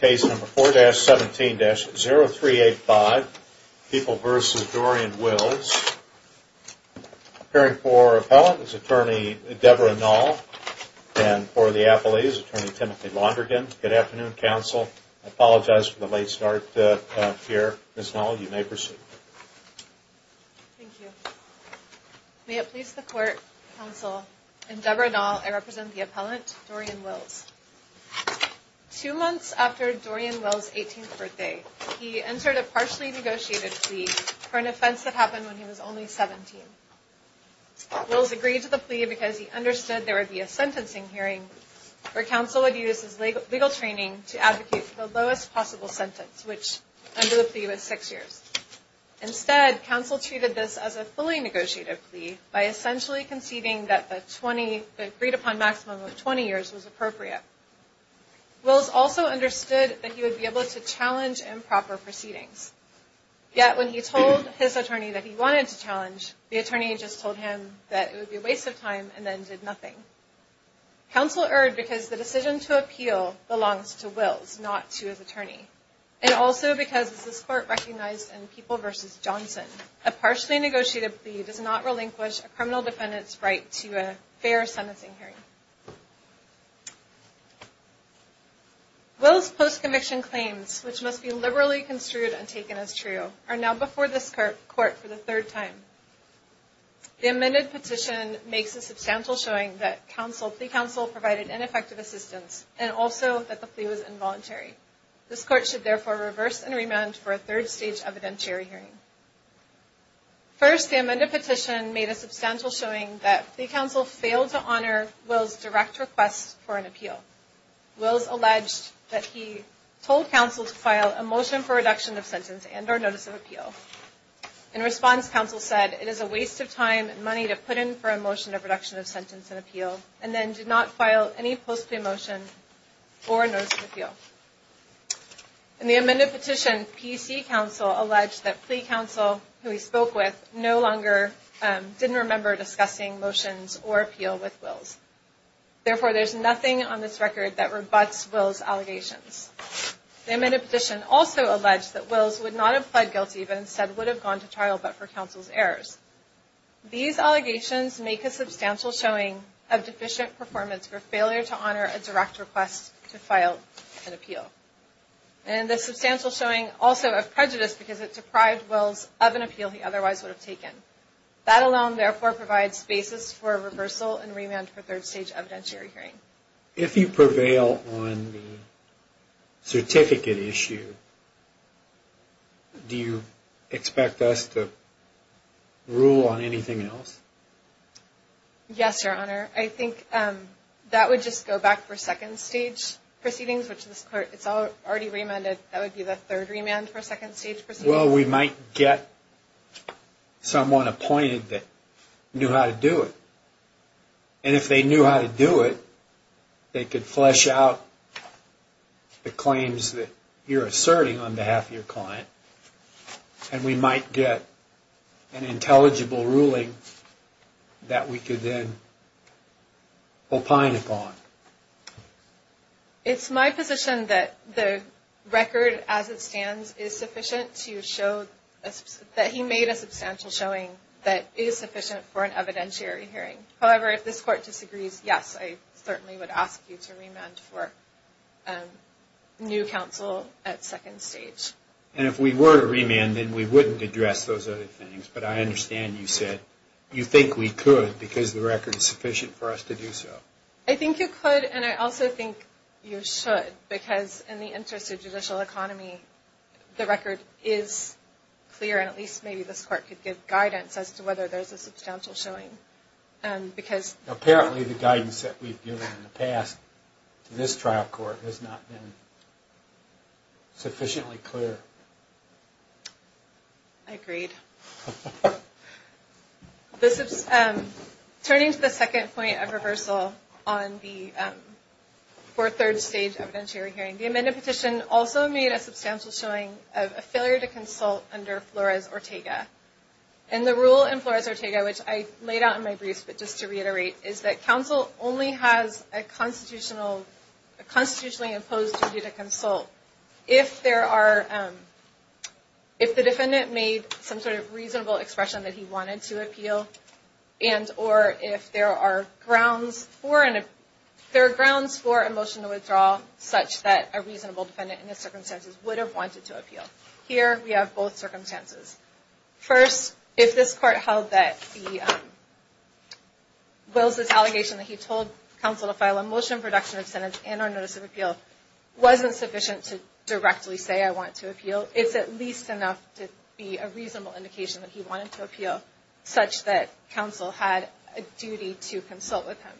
Case number 4-17-0385, People v. Dorian Wills. Appearing for appellant is attorney Debra Nall and for the appellee is attorney Timothy Londrigan. Good afternoon, counsel. I apologize for the late start here. Ms. Nall, you may proceed. Thank you. May it please the court, counsel, I'm Debra Nall. I represent the appellant, Dorian Wills. Two months after Dorian Wills' 18th birthday, he entered a partially negotiated plea for an offense that happened when he was only 17. Wills agreed to the plea because he understood there would be a sentencing hearing where counsel would use his legal training to advocate for the lowest possible sentence, which under the plea was six years. Instead, counsel treated this as a fully negotiated plea by essentially conceiving that the 20, the agreed upon maximum of 20 years was appropriate. Wills also understood that he would be able to challenge improper proceedings. Yet when he told his attorney that he wanted to challenge, the attorney just told him that it would be a waste of time and then did nothing. Counsel erred because the decision to appeal belongs to Wills, not to his attorney. And also because this court recognized in People v. Johnson, a partially negotiated plea does not relinquish a criminal defendant's right to a fair sentencing hearing. Wills' post-conviction claims, which must be liberally construed and taken as true, are now before this court for the third time. The amended petition makes a substantial showing that plea counsel provided ineffective assistance and also that the plea was involuntary. This court should therefore reverse and remand for a third stage evidentiary hearing. First, the amended petition made a substantial showing that plea counsel failed to honor Wills' direct request for an appeal. Wills alleged that he told counsel to file a motion for reduction of sentence and or notice of appeal. In response, counsel said, it is a waste of time and money to put in for a motion of reduction of sentence and appeal. And then did not file any post-plea motion or notice of appeal. In the amended petition, PC counsel alleged that plea counsel, who he spoke with, no longer didn't remember discussing motions or appeal with Wills. Therefore, there's nothing on this record that rebutts Wills' allegations. The amended petition also alleged that Wills would not have pled guilty, but instead would have gone to trial but for counsel's errors. These allegations make a substantial showing of deficient performance for failure to honor a direct request to file an appeal. And the substantial showing also of prejudice because it deprived Wills of an appeal he otherwise would have taken. That alone, therefore, provides basis for reversal and remand for third stage evidentiary hearing. If you prevail on the certificate issue, do you expect us to rule on anything else? Yes, Your Honor. I think that would just go back for second stage proceedings, which it's already remanded. That would be the third remand for second stage proceedings. Well, we might get someone appointed that knew how to do it. And if they knew how to do it, they could flesh out the claims that you're asserting on behalf of your client. And we might get an intelligible ruling that we could then opine upon. It's my position that the record as it stands is sufficient to show that he made a substantial showing that is sufficient for an evidentiary hearing. However, if this Court disagrees, yes, I certainly would ask you to remand for new counsel at second stage. And if we were to remand, then we wouldn't address those other things. But I understand you said you think we could because the record is sufficient for us to do so. I think you could, and I also think you should, because in the interest of judicial economy, the record is clear, and at least maybe this Court could give guidance as to whether there's a substantial showing. Apparently, the guidance that we've given in the past to this trial court has not been sufficiently clear. I agreed. Turning to the second point of reversal for third stage evidentiary hearing, the amended petition also made a substantial showing of a failure to consult under Flores-Ortega. And the rule in Flores-Ortega, which I laid out in my briefs, but just to reiterate, is that counsel only has a constitutionally imposed duty to consult if the defendant made some sort of reasonable expression that he wanted to appeal and or if there are grounds for a motion to withdraw such that a reasonable defendant in the circumstances would have wanted to appeal. Here, we have both circumstances. First, if this Court held that Will's allegation that he told counsel to file a motion for reduction of sentence and or notice of appeal wasn't sufficient to directly say, I want to appeal, it's at least enough to be a reasonable indication that he wanted to appeal such that counsel had a duty to consult with him,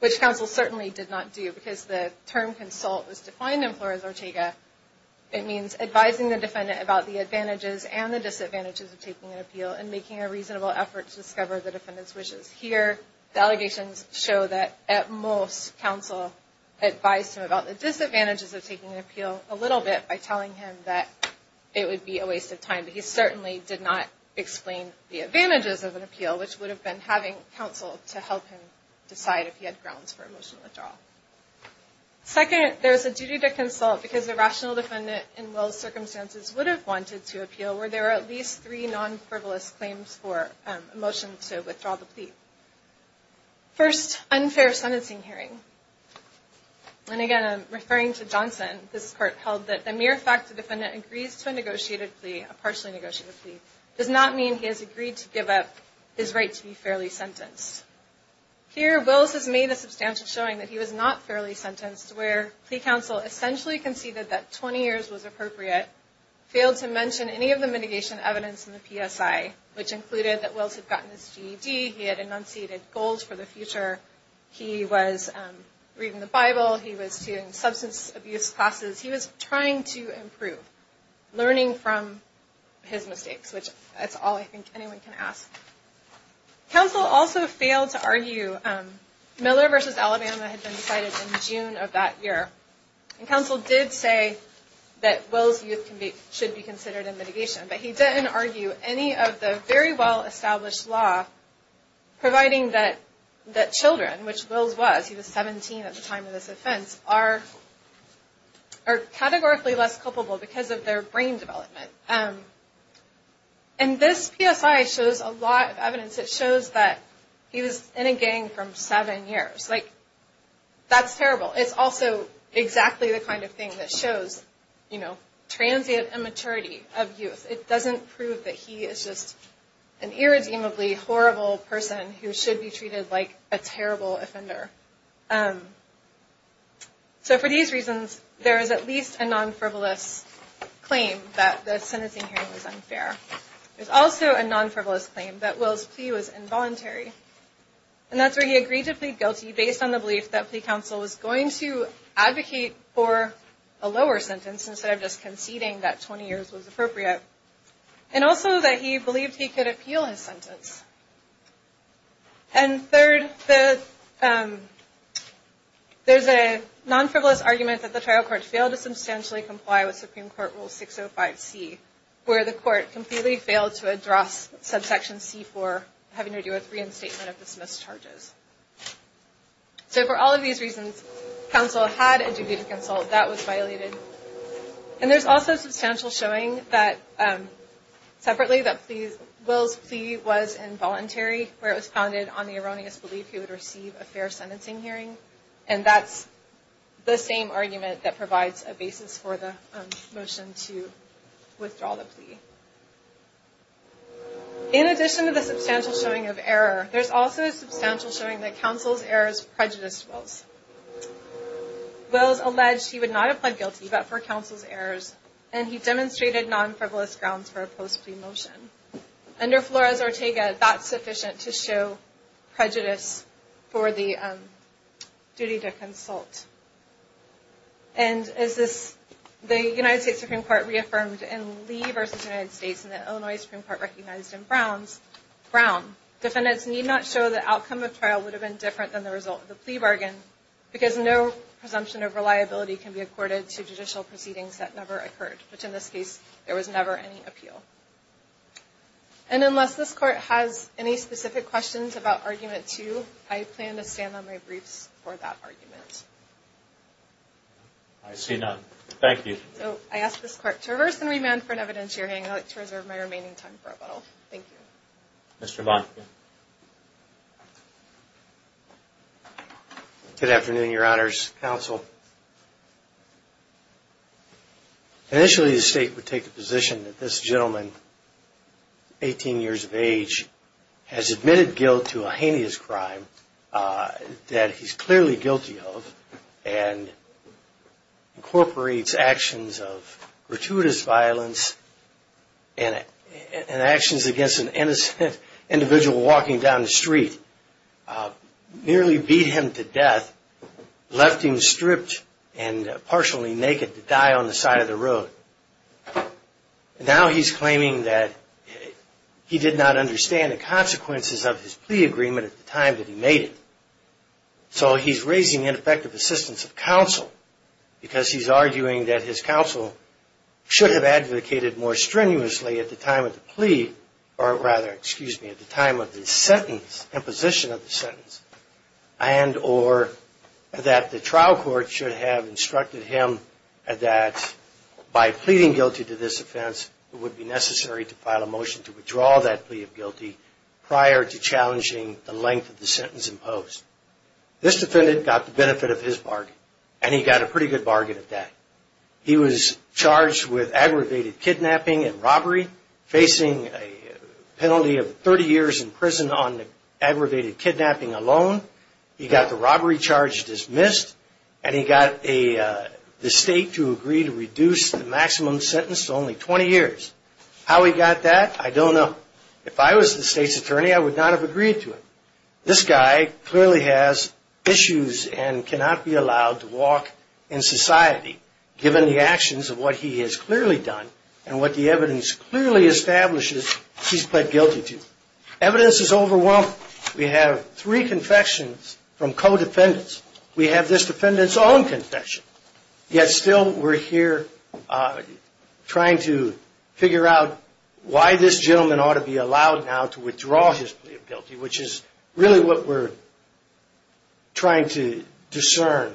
which counsel certainly did not do because the term consult was defined in Flores-Ortega. It means advising the defendant about the advantages and the disadvantages of taking an appeal and making a reasonable effort to discover the defendant's wishes. Here, the allegations show that at most, counsel advised him about the disadvantages of taking an appeal a little bit by telling him that it would be a waste of time, but he certainly did not explain the advantages of an appeal, which would have been having counsel to help him decide if he had grounds for a motion to withdraw. Second, there's a duty to consult because a rational defendant in Will's circumstances would have wanted to appeal where there are at least three non-frivolous claims for a motion to withdraw the plea. First, unfair sentencing hearing. And again, I'm referring to Johnson. This Court held that the mere fact the defendant agrees to a negotiated plea, a partially negotiated plea, does not mean he has agreed to give up his right to be fairly sentenced. Here, Will's has made a substantial showing that he was not fairly sentenced, where plea counsel essentially conceded that 20 years was appropriate, failed to mention any of the mitigation evidence in the PSI, which included that Will's had gotten his GED, he had enunciated goals for the future, he was reading the Bible, he was taking substance abuse classes, he was trying to improve, learning from his mistakes, which that's all I think anyone can ask. Counsel also failed to argue Miller v. Alabama had been decided in June of that year. And counsel did say that Will's youth should be considered in mitigation, but he didn't argue any of the very well-established law providing that children, which Will's was, he was 17 at the time of this offense, are categorically less culpable because of their brain development. And this PSI shows a lot of evidence. It shows that he was in a gang from seven years. That's terrible. It's also exactly the kind of thing that shows transient immaturity of youth. It doesn't prove that he is just an irredeemably horrible person who should be treated like a terrible offender. So for these reasons, there is at least a non-frivolous claim that the sentencing hearing was unfair. There's also a non-frivolous claim that Will's plea was involuntary. And that's where he agreed to plead guilty based on the belief that plea counsel was going to advocate for a lower sentence instead of just conceding that 20 years was appropriate. And also that he believed he could appeal his sentence. And third, there's a non-frivolous argument that the trial court failed to substantially comply with Supreme Court Rule 605C, where the court completely failed to address subsection C for having to do with reinstatement of dismissed charges. So for all of these reasons, counsel had a duty to consult. That was violated. And there's also substantial showing that separately that Will's plea was involuntary, where it was founded on the erroneous belief he would receive a fair sentencing hearing. And that's the same argument that provides a basis for the motion to withdraw the plea. In addition to the substantial showing of error, there's also a substantial showing that counsel's errors prejudiced Will's. Will's alleged he would not have pled guilty but for counsel's errors. And he demonstrated non-frivolous grounds for a post-plea motion. Under Flores-Ortega, that's sufficient to show prejudice for the duty to consult. And as the United States Supreme Court reaffirmed in Lee v. United States and the Illinois Supreme Court recognized in Brown, defendants need not show that outcome of trial would have been different than the result of the plea bargain because no presumption of reliability can be accorded to judicial proceedings that never occurred, which in this case, there was never any appeal. And unless this court has any specific questions about Argument 2, I plan to stand on my briefs for that argument. I see none. Thank you. So I ask this court to reverse and remand for an evidence hearing. I'd like to reserve my remaining time for rebuttal. Thank you. Mr. Monk. Good afternoon, Your Honors. Counsel. Initially, the State would take the position that this gentleman, 18 years of age, has admitted guilt to a heinous crime that he's clearly guilty of and incorporates actions of gratuitous violence and actions against an innocent individual walking down the street, nearly beat him to death, left him stripped and partially naked to die on the side of the road. Now he's claiming that he did not understand the consequences of his plea agreement at the time that he made it. So he's raising ineffective assistance of counsel because he's arguing that his counsel should have advocated more strenuously at the time of the plea, or rather, excuse me, at the time of the sentence, imposition of the sentence, and or that the trial court should have instructed him that by pleading guilty to this offense, it would be necessary to file a motion to withdraw that plea of guilty prior to challenging the length of the sentence imposed. This defendant got the benefit of his bargain, and he got a pretty good bargain at that. He was charged with aggravated kidnapping and robbery, facing a penalty of 30 years in prison on the aggravated kidnapping alone. He got the robbery charge dismissed, and he got the State to agree to reduce the maximum sentence to only 20 years. How he got that, I don't know. If I was the State's attorney, I would not have agreed to it. This guy clearly has issues and cannot be allowed to walk in society, given the actions of what he has clearly done and what the evidence clearly establishes he's pled guilty to. Evidence is overwhelming. We have three confessions from co-defendants. We have this defendant's own confession, yet still we're here trying to figure out why this gentleman ought to be allowed now to withdraw his plea of guilty, which is really what we're trying to discern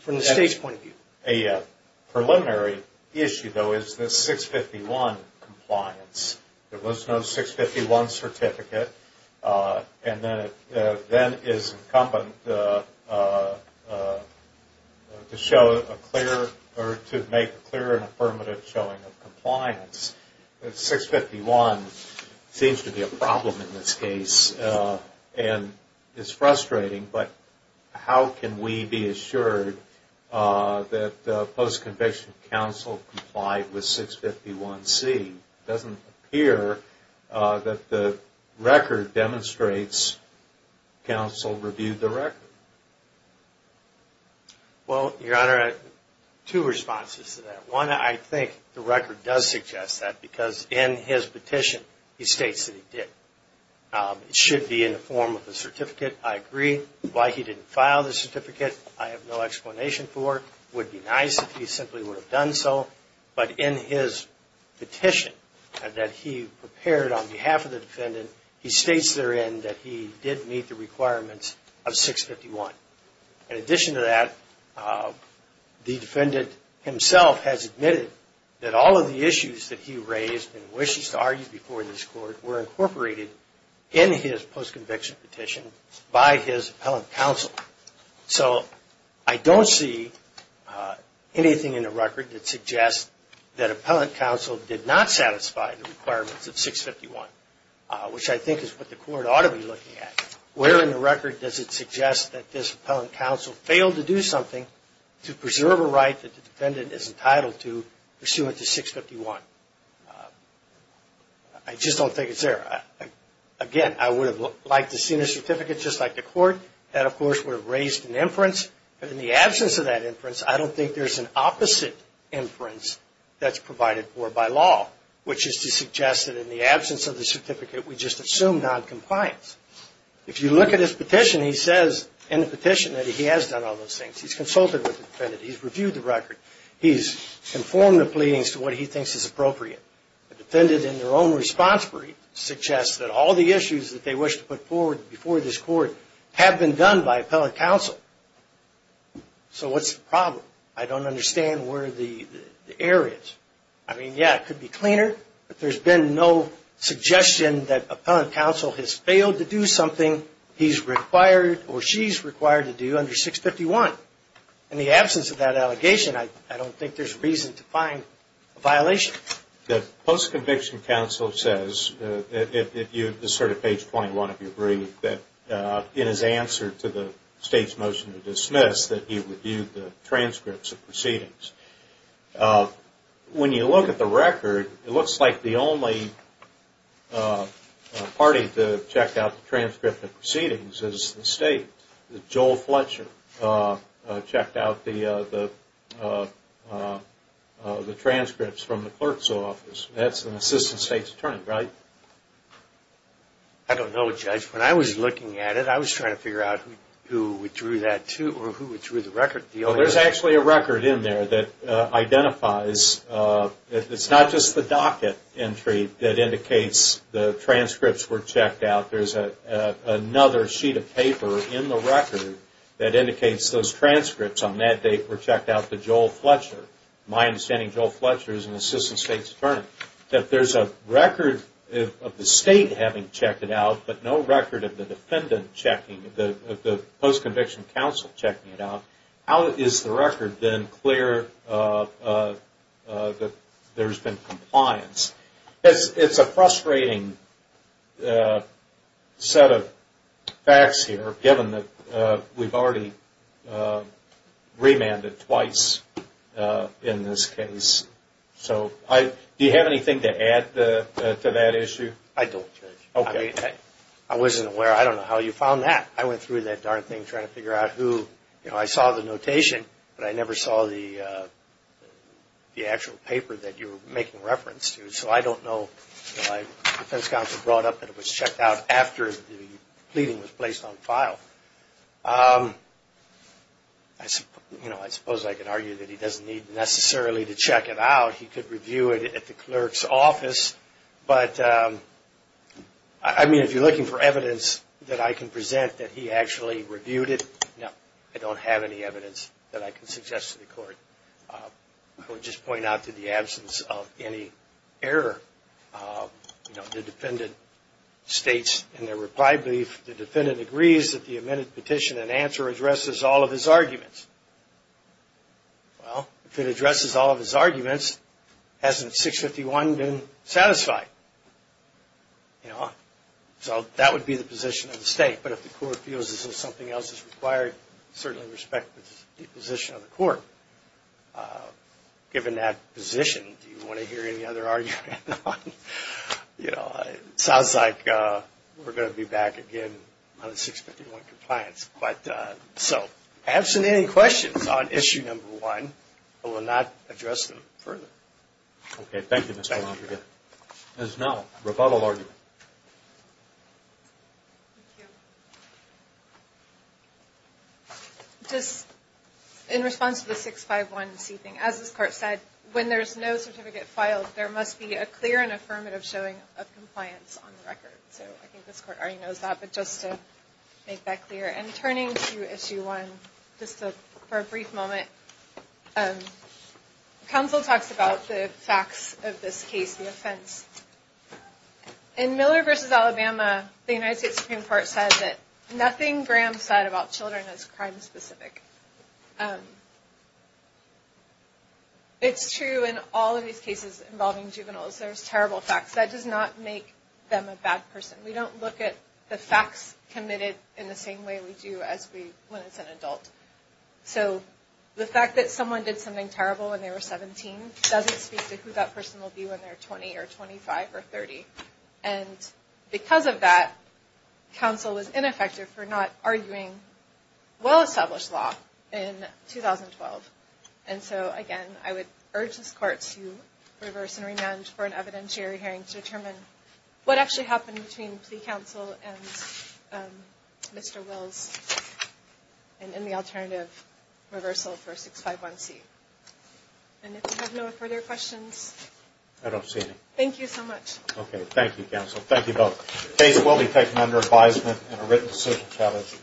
from the State's point of view. A preliminary issue, though, is the 651 compliance. There was no 651 certificate, and then it is incumbent to make a clear and affirmative showing of compliance. 651 seems to be a problem in this case, and it's frustrating, but how can we be assured that the post-conviction counsel complied with 651C? It doesn't appear that the record demonstrates counsel reviewed the record. Well, Your Honor, I have two responses to that. One, I think the record does suggest that, because in his petition, he states that he did. It should be in the form of a certificate. I agree. Why he didn't file the certificate, I have no explanation for. It would be nice if he simply would have done so, but in his petition that he prepared on behalf of the defendant, he states therein that he did meet the requirements of 651. In addition to that, the defendant himself has admitted that all of the issues that he raised and wishes to argue before this Court were incorporated in his post-conviction petition by his appellant counsel. So, I don't see anything in the record that suggests that appellant counsel did not satisfy the requirements of 651, which I think is what the Court ought to be looking at. Where in the record does it suggest that this appellant counsel failed to do something to preserve a right that the defendant is entitled to pursuant to 651? I just don't think it's there. Again, I would have liked to have seen a certificate just like the Court. That, of course, would have raised an inference, but in the absence of that inference, I don't think there's an opposite inference that's provided for by law, which is to suggest that in the absence of the certificate, we just assume noncompliance. If you look at his petition, he says in the petition that he has done all those things. He's consulted with the defendant. He's reviewed the record. He's informed the pleadings to what he thinks is appropriate. The defendant, in their own response brief, suggests that all the issues that they wish to put forward before this Court have been done by appellant counsel. So, what's the problem? I don't understand where the error is. I mean, yeah, it could be cleaner, but there's been no suggestion that appellant counsel has failed to do something he's required or she's required to do under 651. In the absence of that allegation, I don't think there's reason to find a violation. The post-conviction counsel says, if you assert at page 21 of your brief, that in his answer to the State's motion to dismiss, that he reviewed the transcripts of proceedings. When you look at the record, it looks like the only party to have checked out the transcript of proceedings is the State. Joel Fletcher checked out the transcripts from the clerk's office. That's an assistant State's attorney, right? I don't know, Judge. When I was looking at it, I was trying to figure out who withdrew the record deal. There's actually a record in there that identifies, it's not just the docket entry that indicates the transcripts were checked out. There's another sheet of paper in the record that indicates those transcripts on that date were checked out to Joel Fletcher. My understanding, Joel Fletcher is an assistant State's attorney. That there's a record of the State having checked it out, but no record of the defendant checking, the post-conviction counsel checking it out. How is the record then clear that there's been compliance? It's a frustrating set of facts here, given that we've already remanded twice in this case. Do you have anything to add to that issue? I don't, Judge. I wasn't aware. I don't know how you found that. I went through that darn thing trying to figure out who, you know, I saw the notation, but I never saw the actual paper that you're making reference to. So I don't know. The defense counsel brought up that it was checked out after the pleading was placed on file. I suppose I could argue that he doesn't need necessarily to check it out. He could review it at the clerk's office. But, I mean, if you're looking for evidence that I can present that he actually reviewed it, no, I don't have any evidence that I can suggest to the court. I would just point out that in the absence of any error, the defendant states in their reply brief, the defendant agrees that the amended petition in answer addresses all of his arguments. Well, if it addresses all of his arguments, hasn't 651 been satisfied? You know, so that would be the position of the state. But if the court feels as though something else is required, certainly respect the position of the court. Given that position, do you want to hear any other argument? You know, it sounds like we're going to be back again on the 651 compliance. But, so, absent any questions on issue number one, I will not address them further. Okay. Thank you, Mr. Long. There's no rebuttal argument. Just in response to the 651C thing, as this court said, when there's no certificate filed, there must be a clear and affirmative showing of compliance on the record. So, I think this court already knows that, but just to make that clear. And turning to issue one, just for a brief moment, counsel talks about the facts of this case, the offense. In Miller v. Alabama, the United States Supreme Court said that nothing Graham said about children is crime-specific. It's true in all of these cases involving juveniles. There's terrible facts. That does not make them a bad person. We don't look at the facts committed in the same way we do when it's an adult. So, the fact that someone did something terrible when they were 17 doesn't speak to who that person will be when they're 20 or 25 or 30. And because of that, counsel was ineffective for not arguing well-established law in 2012. And so, again, I would urge this court to reverse and remand for an evidentiary hearing to determine what actually happened between plea counsel and Mr. Wills in the alternative reversal for 651C. And if you have no further questions... I don't see any. Thank you so much. Okay. Thank you, counsel. Thank you both. The case will be taken under advisement and a written decision challenge.